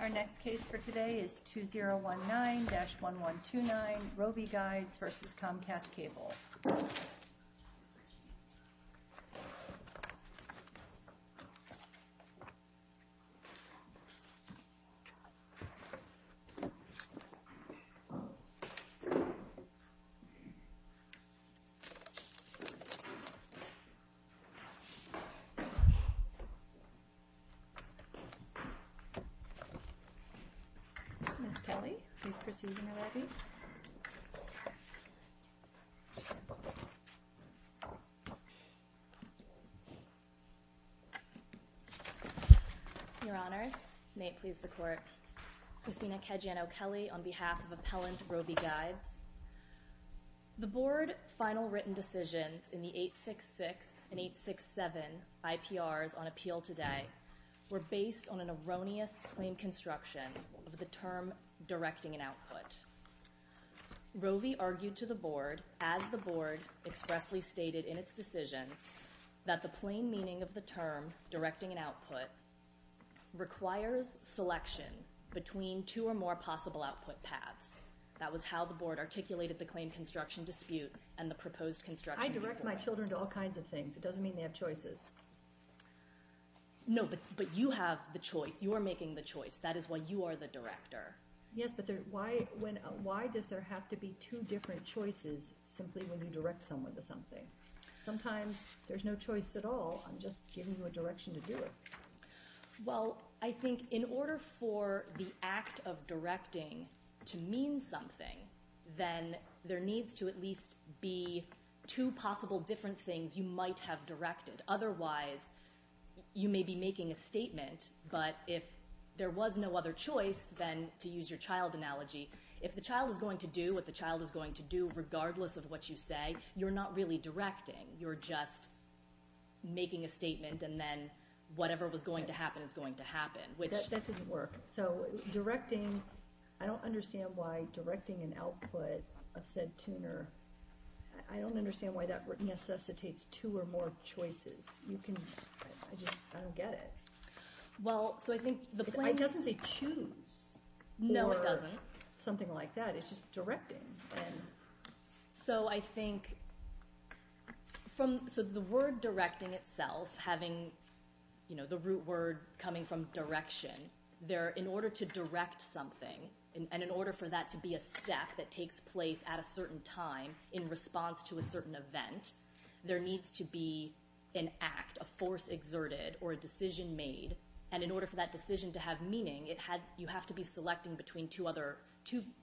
Our next case for today is 2019-1129 Rovi Guides v. Comcast Cable Ms. Kelley, please proceed in your lobby. Your Honors, may it please the Court, Christina Kejiano-Kelley on behalf of Appellant Rovi Guides. The Board final written decisions in the 866 and 867 IPRs on appeal today were based on an erroneous claim construction of the term directing an output. Rovi argued to the Board as the Board expressly stated in its decision that the plain meaning of the term directing an output requires selection between two or more possible output paths. That was how the Board articulated the claim construction dispute and the proposed construction report. I direct my children to all kinds of things. It doesn't mean they have choices. No, but you have the choice. You are making the choice. That is why you are the director. Yes, but why does there have to be two different choices simply when you direct someone to something? Sometimes there's no choice at all. I'm just giving you a direction to do it. Well, I think in order for the act of directing to mean something, then there needs to at least be two possible different things you might have directed. Otherwise, you may be making a statement, but if there was no other choice than to use your child analogy, if the child is going to do what the child is going to do regardless of what you say, you're not really directing. You're just making a statement, and then whatever was going to happen is going to happen. That didn't work. I don't understand why directing an output of said tuner, I don't understand why that necessitates two or more choices. I just don't get it. Well, so I think the claim doesn't say choose. No, it doesn't. Or something like that. It's just directing. So I think the word directing itself, having the root word coming from direction, in order to direct something, and in order for that to be a step that takes place at a certain time in response to a certain event, there needs to be an act, a force exerted, or a decision made, and in order for that decision to have meaning, you have to be selecting between two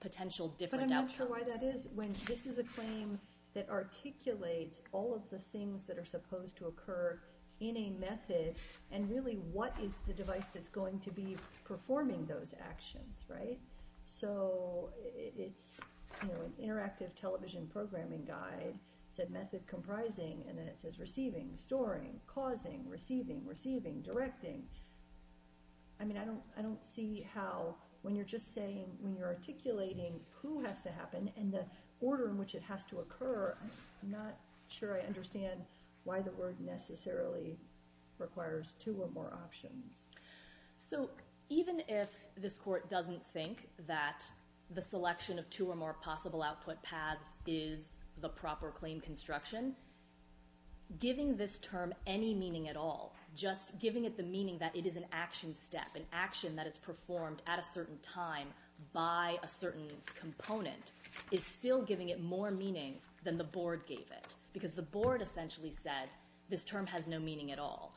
potential different outcomes. But I'm not sure why that is, when this is a claim that articulates all of the things that are supposed to occur in a method, and really what is the device that's going to be performing those actions, right? So it's an interactive television programming guide, said method comprising, and then it says receiving, storing, causing, receiving, receiving, directing. I mean, I don't see how, when you're just saying, when you're articulating who has to happen, and the order in which it has to occur, I'm not sure I understand why the word necessarily requires two or more options. So even if this Court doesn't think that the selection of two or more possible output paths is the proper claim construction, giving this term any meaning at all, just giving it the meaning that it is an action step, an action that is performed at a certain time by a certain component, is still giving it more meaning than the Board gave it. Because the Board essentially said this term has no meaning at all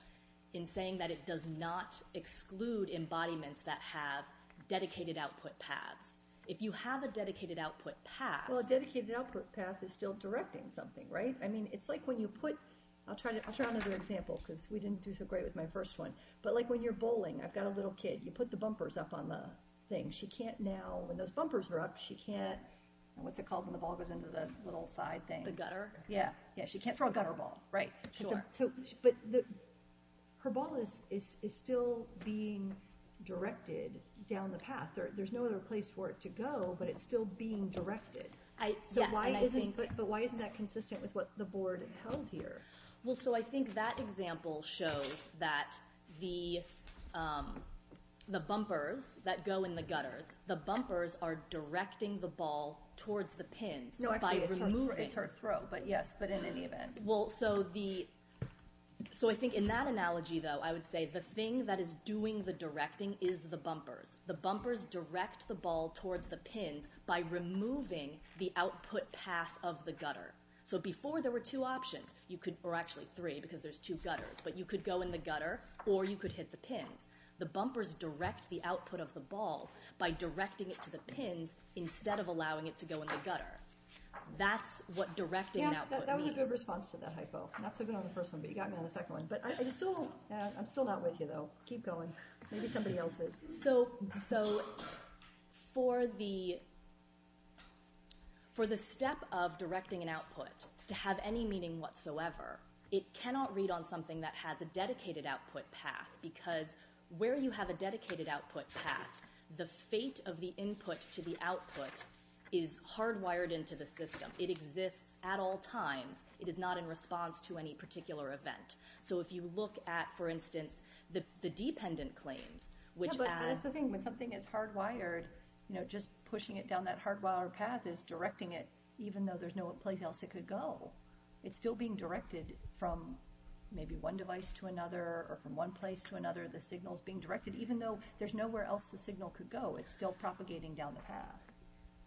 in saying that it does not exclude embodiments that have dedicated output paths. If you have a dedicated output path... Well, a dedicated output path is still directing something, right? I mean, it's like when you put... I'll try another example, because we didn't do so great with my first one. But like when you're bowling, I've got a little kid. You put the bumpers up on the thing. She can't now, when those bumpers are up, she can't... What's it called when the ball goes into the little side thing? The gutter? Yeah, she can't throw a gutter ball, right? But her ball is still being directed down the path. There's no other place for it to go, but it's still being directed. So why isn't that consistent with what the Board held here? Well, so I think that example shows that the bumpers that go in the gutters, the bumpers are directing the ball towards the pins by removing... No, actually, it's her throw, but yes, but in any event. Well, so the... So I think in that analogy, though, I would say the thing that is doing the directing is the bumpers. The bumpers direct the ball towards the pins by removing the output path of the gutter. So before there were two options, or actually three, because there's two gutters, but you could go in the gutter or you could hit the pins. The bumpers direct the output of the ball by directing it to the pins instead of allowing it to go in the gutter. That's what directing an output means. Yeah, that was a good response to that hypo. Not so good on the first one, but you got me on the second one. But I'm still not with you, though. Keep going. Maybe somebody else is. So for the step of directing an output to have any meaning whatsoever, it cannot read on something that has a dedicated output path, because where you have a dedicated output path, the fate of the input to the output is hardwired into the system. It exists at all times. It is not in response to any particular event. So if you look at, for instance, the dependent claims, Yeah, but here's the thing. When something is hardwired, just pushing it down that hardwired path is directing it even though there's no place else it could go. It's still being directed from maybe one device to another or from one place to another. The signal's being directed even though there's nowhere else the signal could go. It's still propagating down the path.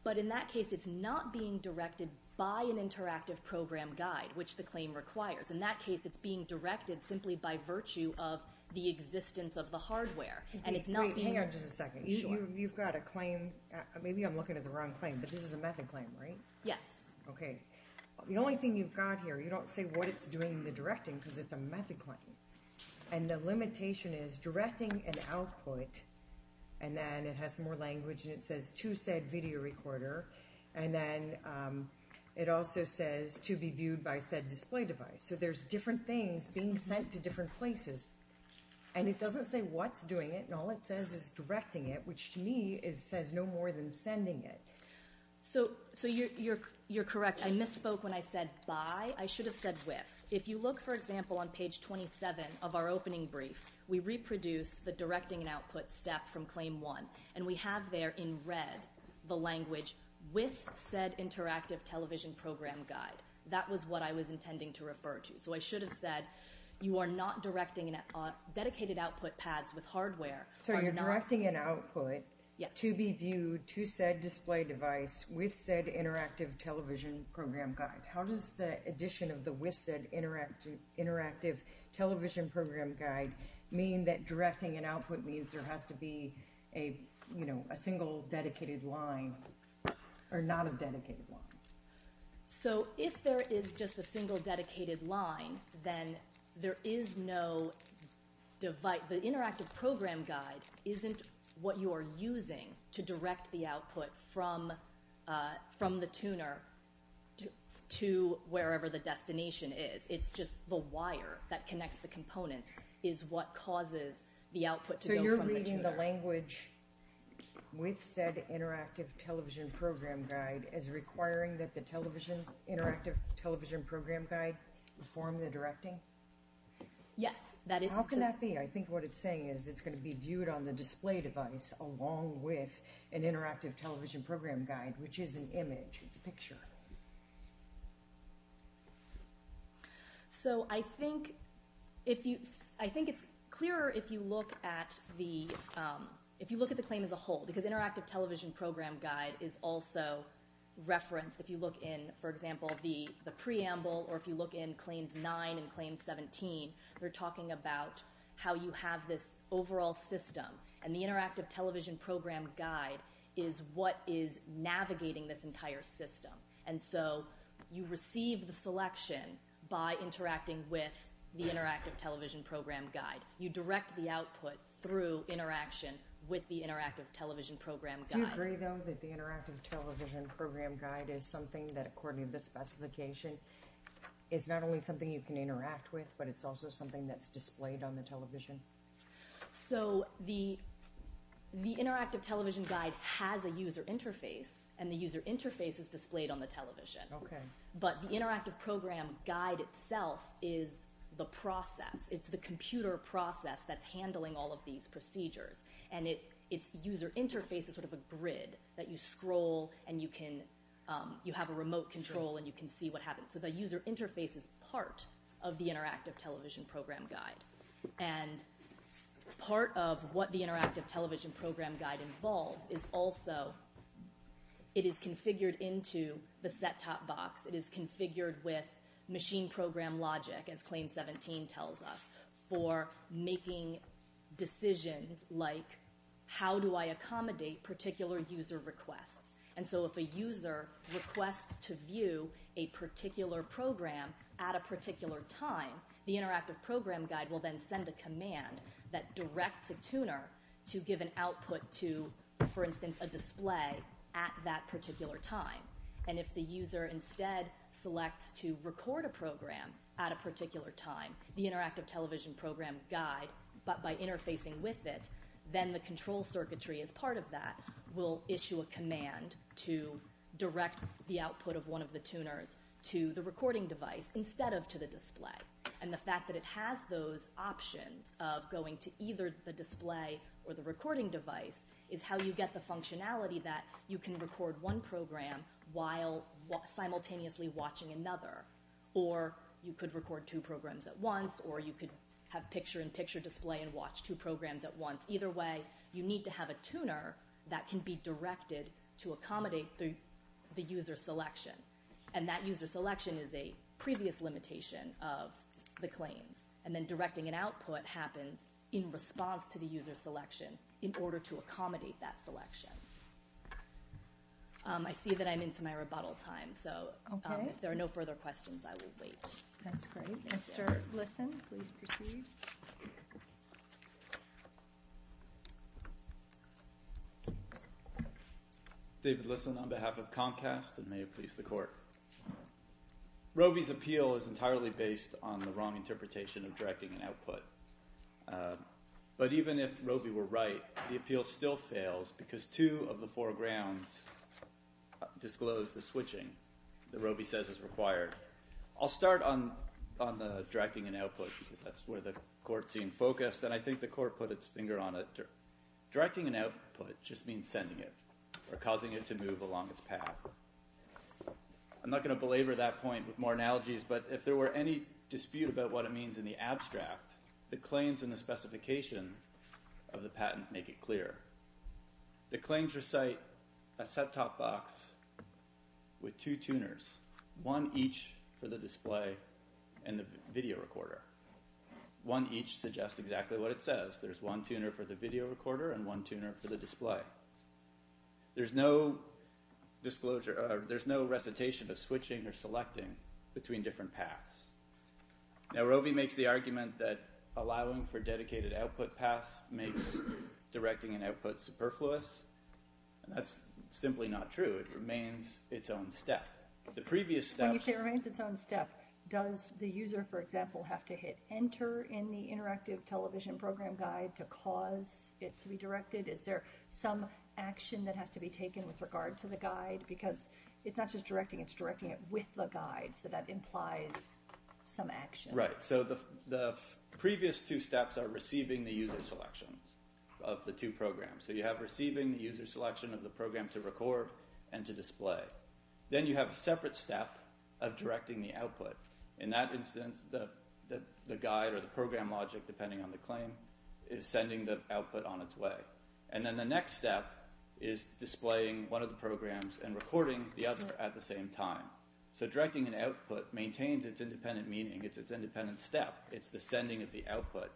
But in that case, it's not being directed by an interactive program guide, which the claim requires. In that case, it's being directed simply by virtue of the existence of the hardware, and it's not being... Wait, hang on just a second. You've got a claim. Maybe I'm looking at the wrong claim, but this is a method claim, right? Yes. Okay. The only thing you've got here, you don't say what it's doing in the directing because it's a method claim, and the limitation is directing an output, and then it has some more language, and it says to said video recorder, and then it also says to be viewed by said display device. So there's different things being sent to different places, and it doesn't say what's doing it, and all it says is directing it, which to me says no more than sending it. So you're correct. I misspoke when I said by. I should have said with. If you look, for example, on page 27 of our opening brief, we reproduce the directing and output step from claim one, and we have there in red the language with said interactive television program guide. That was what I was intending to refer to. So I should have said you are not directing dedicated output pads with hardware. So you're directing an output to be viewed to said display device with said interactive television program guide. How does the addition of the with said interactive television program guide mean that directing an output means there has to be a single dedicated line or not a dedicated line? So if there is just a single dedicated line, then there is no divide. The interactive program guide isn't what you are using to direct the output from the tuner to wherever the destination is. It's just the wire that connects the components is what causes the output to go from the tuner. So you're reading the language with said interactive television program guide as requiring that the interactive television program guide perform the directing? Yes. How can that be? I think what it's saying is it's going to be viewed on the display device along with an interactive television program guide, which is an image. It's a picture. So I think it's clearer if you look at the claim as a whole, because interactive television program guide is also referenced. If you look in, for example, the preamble or if you look in Claims 9 and Claims 17, they're talking about how you have this overall system. And the interactive television program guide is what is navigating this entire system. And so you receive the selection by interacting with the interactive television program guide. You direct the output through interaction with the interactive television program guide. Do you agree, though, that the interactive television program guide is something that, according to the specification, is not only something you can interact with, but it's also something that's displayed on the television? So the interactive television guide has a user interface, and the user interface is displayed on the television. Okay. But the interactive program guide itself is the process. It's the computer process that's handling all of these procedures. And its user interface is sort of a grid that you scroll and you have a remote control and you can see what happens. So the user interface is part of the interactive television program guide. And part of what the interactive television program guide involves is also it is configured into the set-top box. It is configured with machine program logic, as Claims 17 tells us, for making decisions like, how do I accommodate particular user requests? And so if a user requests to view a particular program at a particular time, the interactive program guide will then send a command that directs a tuner to give an output to, for instance, a display at that particular time. And if the user instead selects to record a program at a particular time, the interactive television program guide, but by interfacing with it, then the control circuitry as part of that will issue a command to direct the output of one of the tuners to the recording device instead of to the display. And the fact that it has those options of going to either the display or the recording device is how you get the functionality that you can record one program while simultaneously watching another. Or you could record two programs at once, or you could have picture-in-picture display and watch two programs at once. Either way, you need to have a tuner that can be directed to accommodate the user selection. And that user selection is a previous limitation of the claims. And then directing an output happens in response to the user selection in order to accommodate that selection. I see that I'm into my rebuttal time, so if there are no further questions, I will wait. That's great. Mr. Lisson, please proceed. David Lisson on behalf of Comcast, and may it please the Court. Roby's appeal is entirely based on the wrong interpretation of directing an output. But even if Roby were right, the appeal still fails because two of the four grounds disclose the switching that Roby says is required. I'll start on directing an output because that's where the Court seemed focused, and I think the Court put its finger on it. Directing an output just means sending it or causing it to move along its path. I'm not going to belabor that point with more analogies, but if there were any dispute about what it means in the abstract, the claims in the specification of the patent make it clear. The claims recite a set-top box with two tuners, one each for the display and the video recorder. One each suggests exactly what it says. There's one tuner for the video recorder and one tuner for the display. There's no recitation of switching or selecting between different paths. Now, Roby makes the argument that allowing for dedicated output paths makes directing an output superfluous, and that's simply not true. It remains its own step. When you say it remains its own step, does the user, for example, have to hit Enter in the interactive television program guide to cause it to be directed? Is there some action that has to be taken with regard to the guide? Because it's not just directing, it's directing it with the guide, so that implies some action. Right, so the previous two steps are receiving the user selections of the two programs. So you have receiving the user selection of the program to record and to display. Then you have a separate step of directing the output. In that instance, the guide or the program logic, depending on the claim, is sending the output on its way. And then the next step is displaying one of the programs and recording the other at the same time. So directing an output maintains its independent meaning. It's its independent step. It's the sending of the output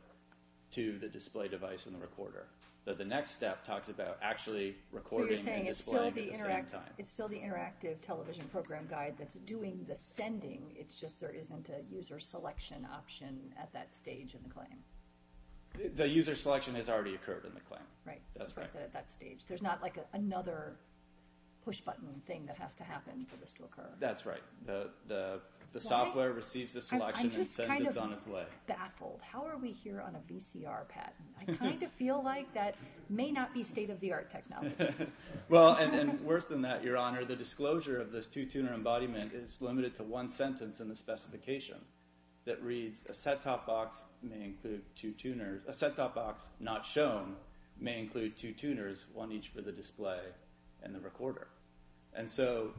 to the display device and the recorder. But the next step talks about actually recording and displaying at the same time. So you're saying it's still the interactive television program guide that's doing the sending, it's just there isn't a user selection option at that stage in the claim. The user selection has already occurred in the claim. Right. That's what I said at that stage. There's not, like, another push-button thing that has to happen for this to occur. That's right. The software receives the selection and sends it on its way. I'm just kind of baffled. How are we here on a VCR patent? I kind of feel like that may not be state-of-the-art technology. Well, and worse than that, Your Honor, the disclosure of this two-tuner embodiment is limited to one sentence in the specification that reads, a set-top box may include two tuners. A set-top box not shown may include two tuners, one each for the display and the recorder. And so,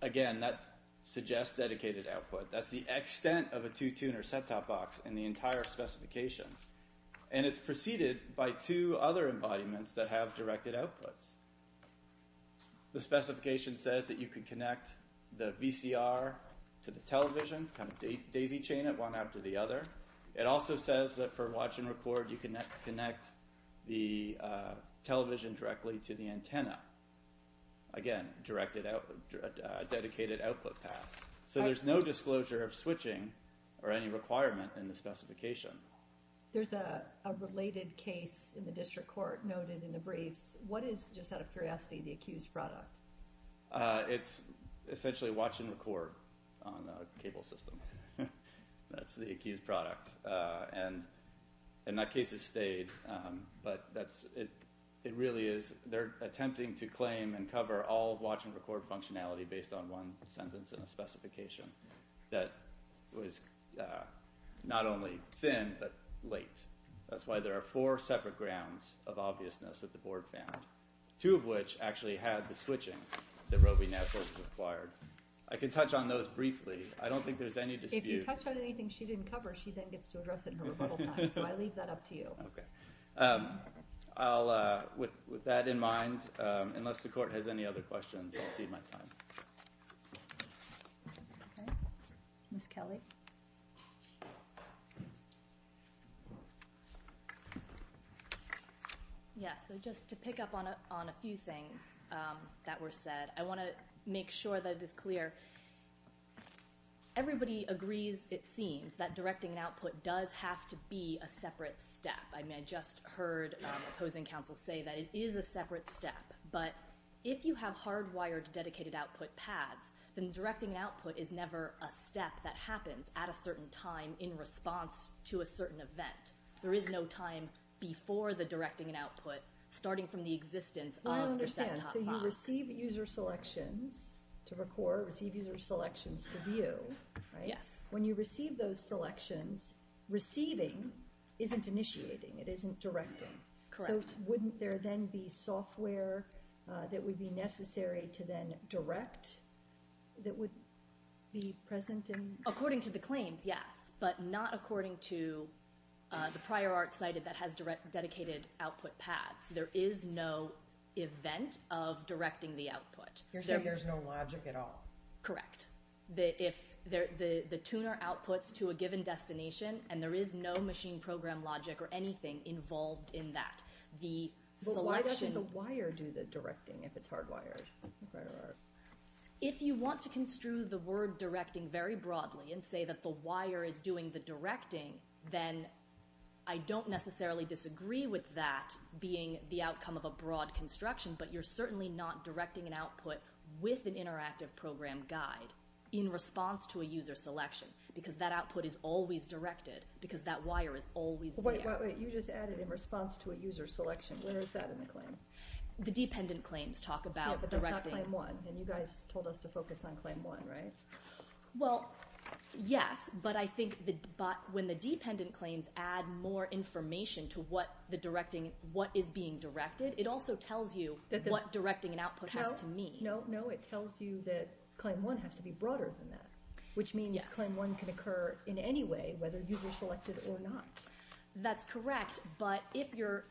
again, that suggests dedicated output. That's the extent of a two-tuner set-top box in the entire specification. And it's preceded by two other embodiments that have directed outputs. The specification says that you can connect the VCR to the television, kind of daisy-chain it one after the other. It also says that for watch and record, you can connect the television directly to the antenna. Again, dedicated output path. So there's no disclosure of switching or any requirement in the specification. There's a related case in the district court noted in the briefs. What is, just out of curiosity, the accused product? It's essentially watch and record on a cable system. That's the accused product. And that case has stayed, but it really is... They're attempting to claim and cover all watch and record functionality based on one sentence in the specification that was not only thin, but late. That's why there are four separate grounds of obviousness that the board found. Two of which actually had the switching that Roe v. Nassos required. I can touch on those briefly. I don't think there's any dispute. If you touch on anything she didn't cover, she then gets to address it in her rebuttal time. So I leave that up to you. Okay. With that in mind, unless the court has any other questions, I'll cede my time. Okay. Ms. Kelly. Yeah, so just to pick up on a few things that were said, I want to make sure that it is clear. Everybody agrees, it seems, that directing an output does have to be a separate step. I mean, I just heard opposing counsel say that it is a separate step. But if you have hardwired dedicated output pads, then directing an output is never a step that happens at a certain time in response to a certain event. There is no time before the directing an output, starting from the existence of your center top box. I understand. So you receive user selections to record, receive user selections to view, right? Yes. When you receive those selections, receiving isn't initiating. It isn't directing. Correct. So wouldn't there then be software that would be necessary to then direct that would be present? According to the claims, yes, but not according to the prior art cited that has dedicated output pads. There is no event of directing the output. You're saying there's no logic at all? Correct. The tuner outputs to a given destination, and there is no machine program logic or anything involved in that. But why doesn't the wire do the directing if it's hardwired? If you want to construe the word directing very broadly and say that the wire is doing the directing, then I don't necessarily disagree with that being the outcome of a broad construction, but you're certainly not directing an output with an interactive program guide in response to a user selection because that output is always directed, because that wire is always there. Wait, you just added in response to a user selection. Where is that in the claim? Yeah, but that's not Claim 1, and you guys told us to focus on Claim 1, right? Well, yes, but I think when the dependent claims add more information to what is being directed, it also tells you what directing an output has to mean. No, it tells you that Claim 1 has to be broader than that, which means Claim 1 can occur in any way, whether user-selected or not. That's correct, but if your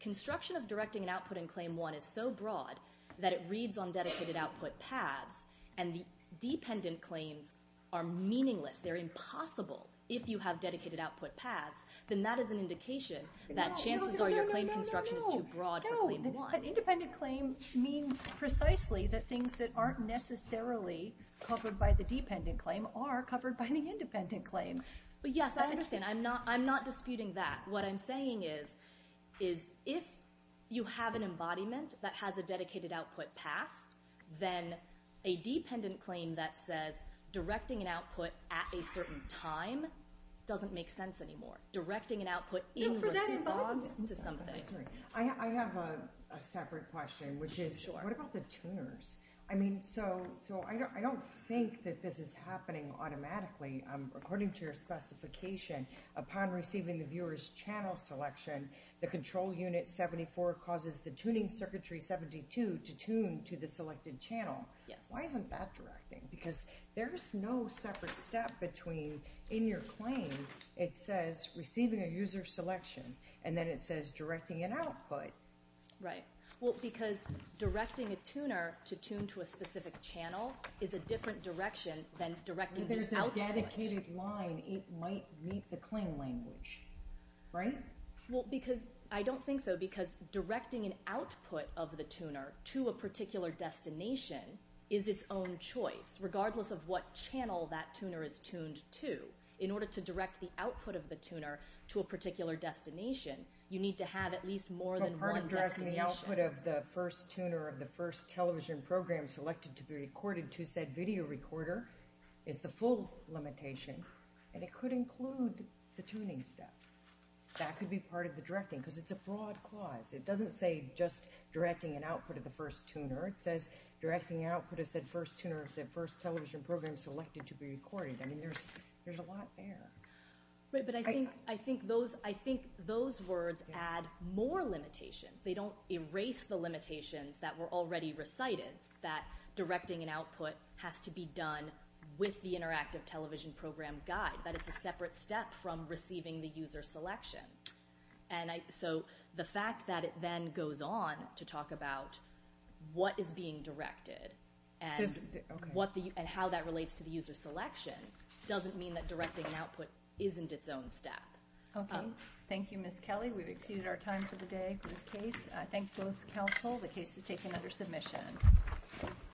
construction of directing an output in Claim 1 is so broad that it reads on dedicated output paths and the dependent claims are meaningless, they're impossible if you have dedicated output paths, then that is an indication that chances are your claim construction is too broad for Claim 1. No, no, no, no, no, no, no. An independent claim means precisely that things that aren't necessarily covered by the dependent claim are covered by the independent claim. Yes, I understand. I'm not disputing that. What I'm saying is if you have an embodiment that has a dedicated output path, then a dependent claim that says directing an output at a certain time doesn't make sense anymore. Directing an output in reverse to something. I have a separate question, which is what about the tuners? I don't think that this is happening automatically. According to your specification, upon receiving the viewer's channel selection, the control unit 74 causes the tuning circuitry 72 to tune to the selected channel. Why isn't that directing? Because there's no separate step between in your claim it says receiving a user selection and then it says directing an output. Right. Because directing a tuner to tune to a specific channel is a different direction than directing the output. If there's a dedicated line, it might meet the claim language, right? I don't think so, because directing an output of the tuner to a particular destination is its own choice, regardless of what channel that tuner is tuned to. In order to direct the output of the tuner to a particular destination, you need to have at least more than one destination. Part of directing the output of the first tuner of the first television program selected to be recorded to said video recorder is the full limitation, and it could include the tuning step. That could be part of the directing, because it's a broad clause. It doesn't say just directing an output of the first tuner. It says directing output of said first tuner of said first television program selected to be recorded. I mean, there's a lot there. Right, but I think those words add more limitations. They don't erase the limitations that were already recited, that directing an output has to be done with the interactive television program guide, that it's a separate step from receiving the user selection. And so the fact that it then goes on to talk about what is being directed and how that relates to the user selection doesn't mean that directing an output isn't its own step. Okay. Thank you, Ms. Kelly. We've exceeded our time for the day for this case. I thank both counsel. The case is taken under submission.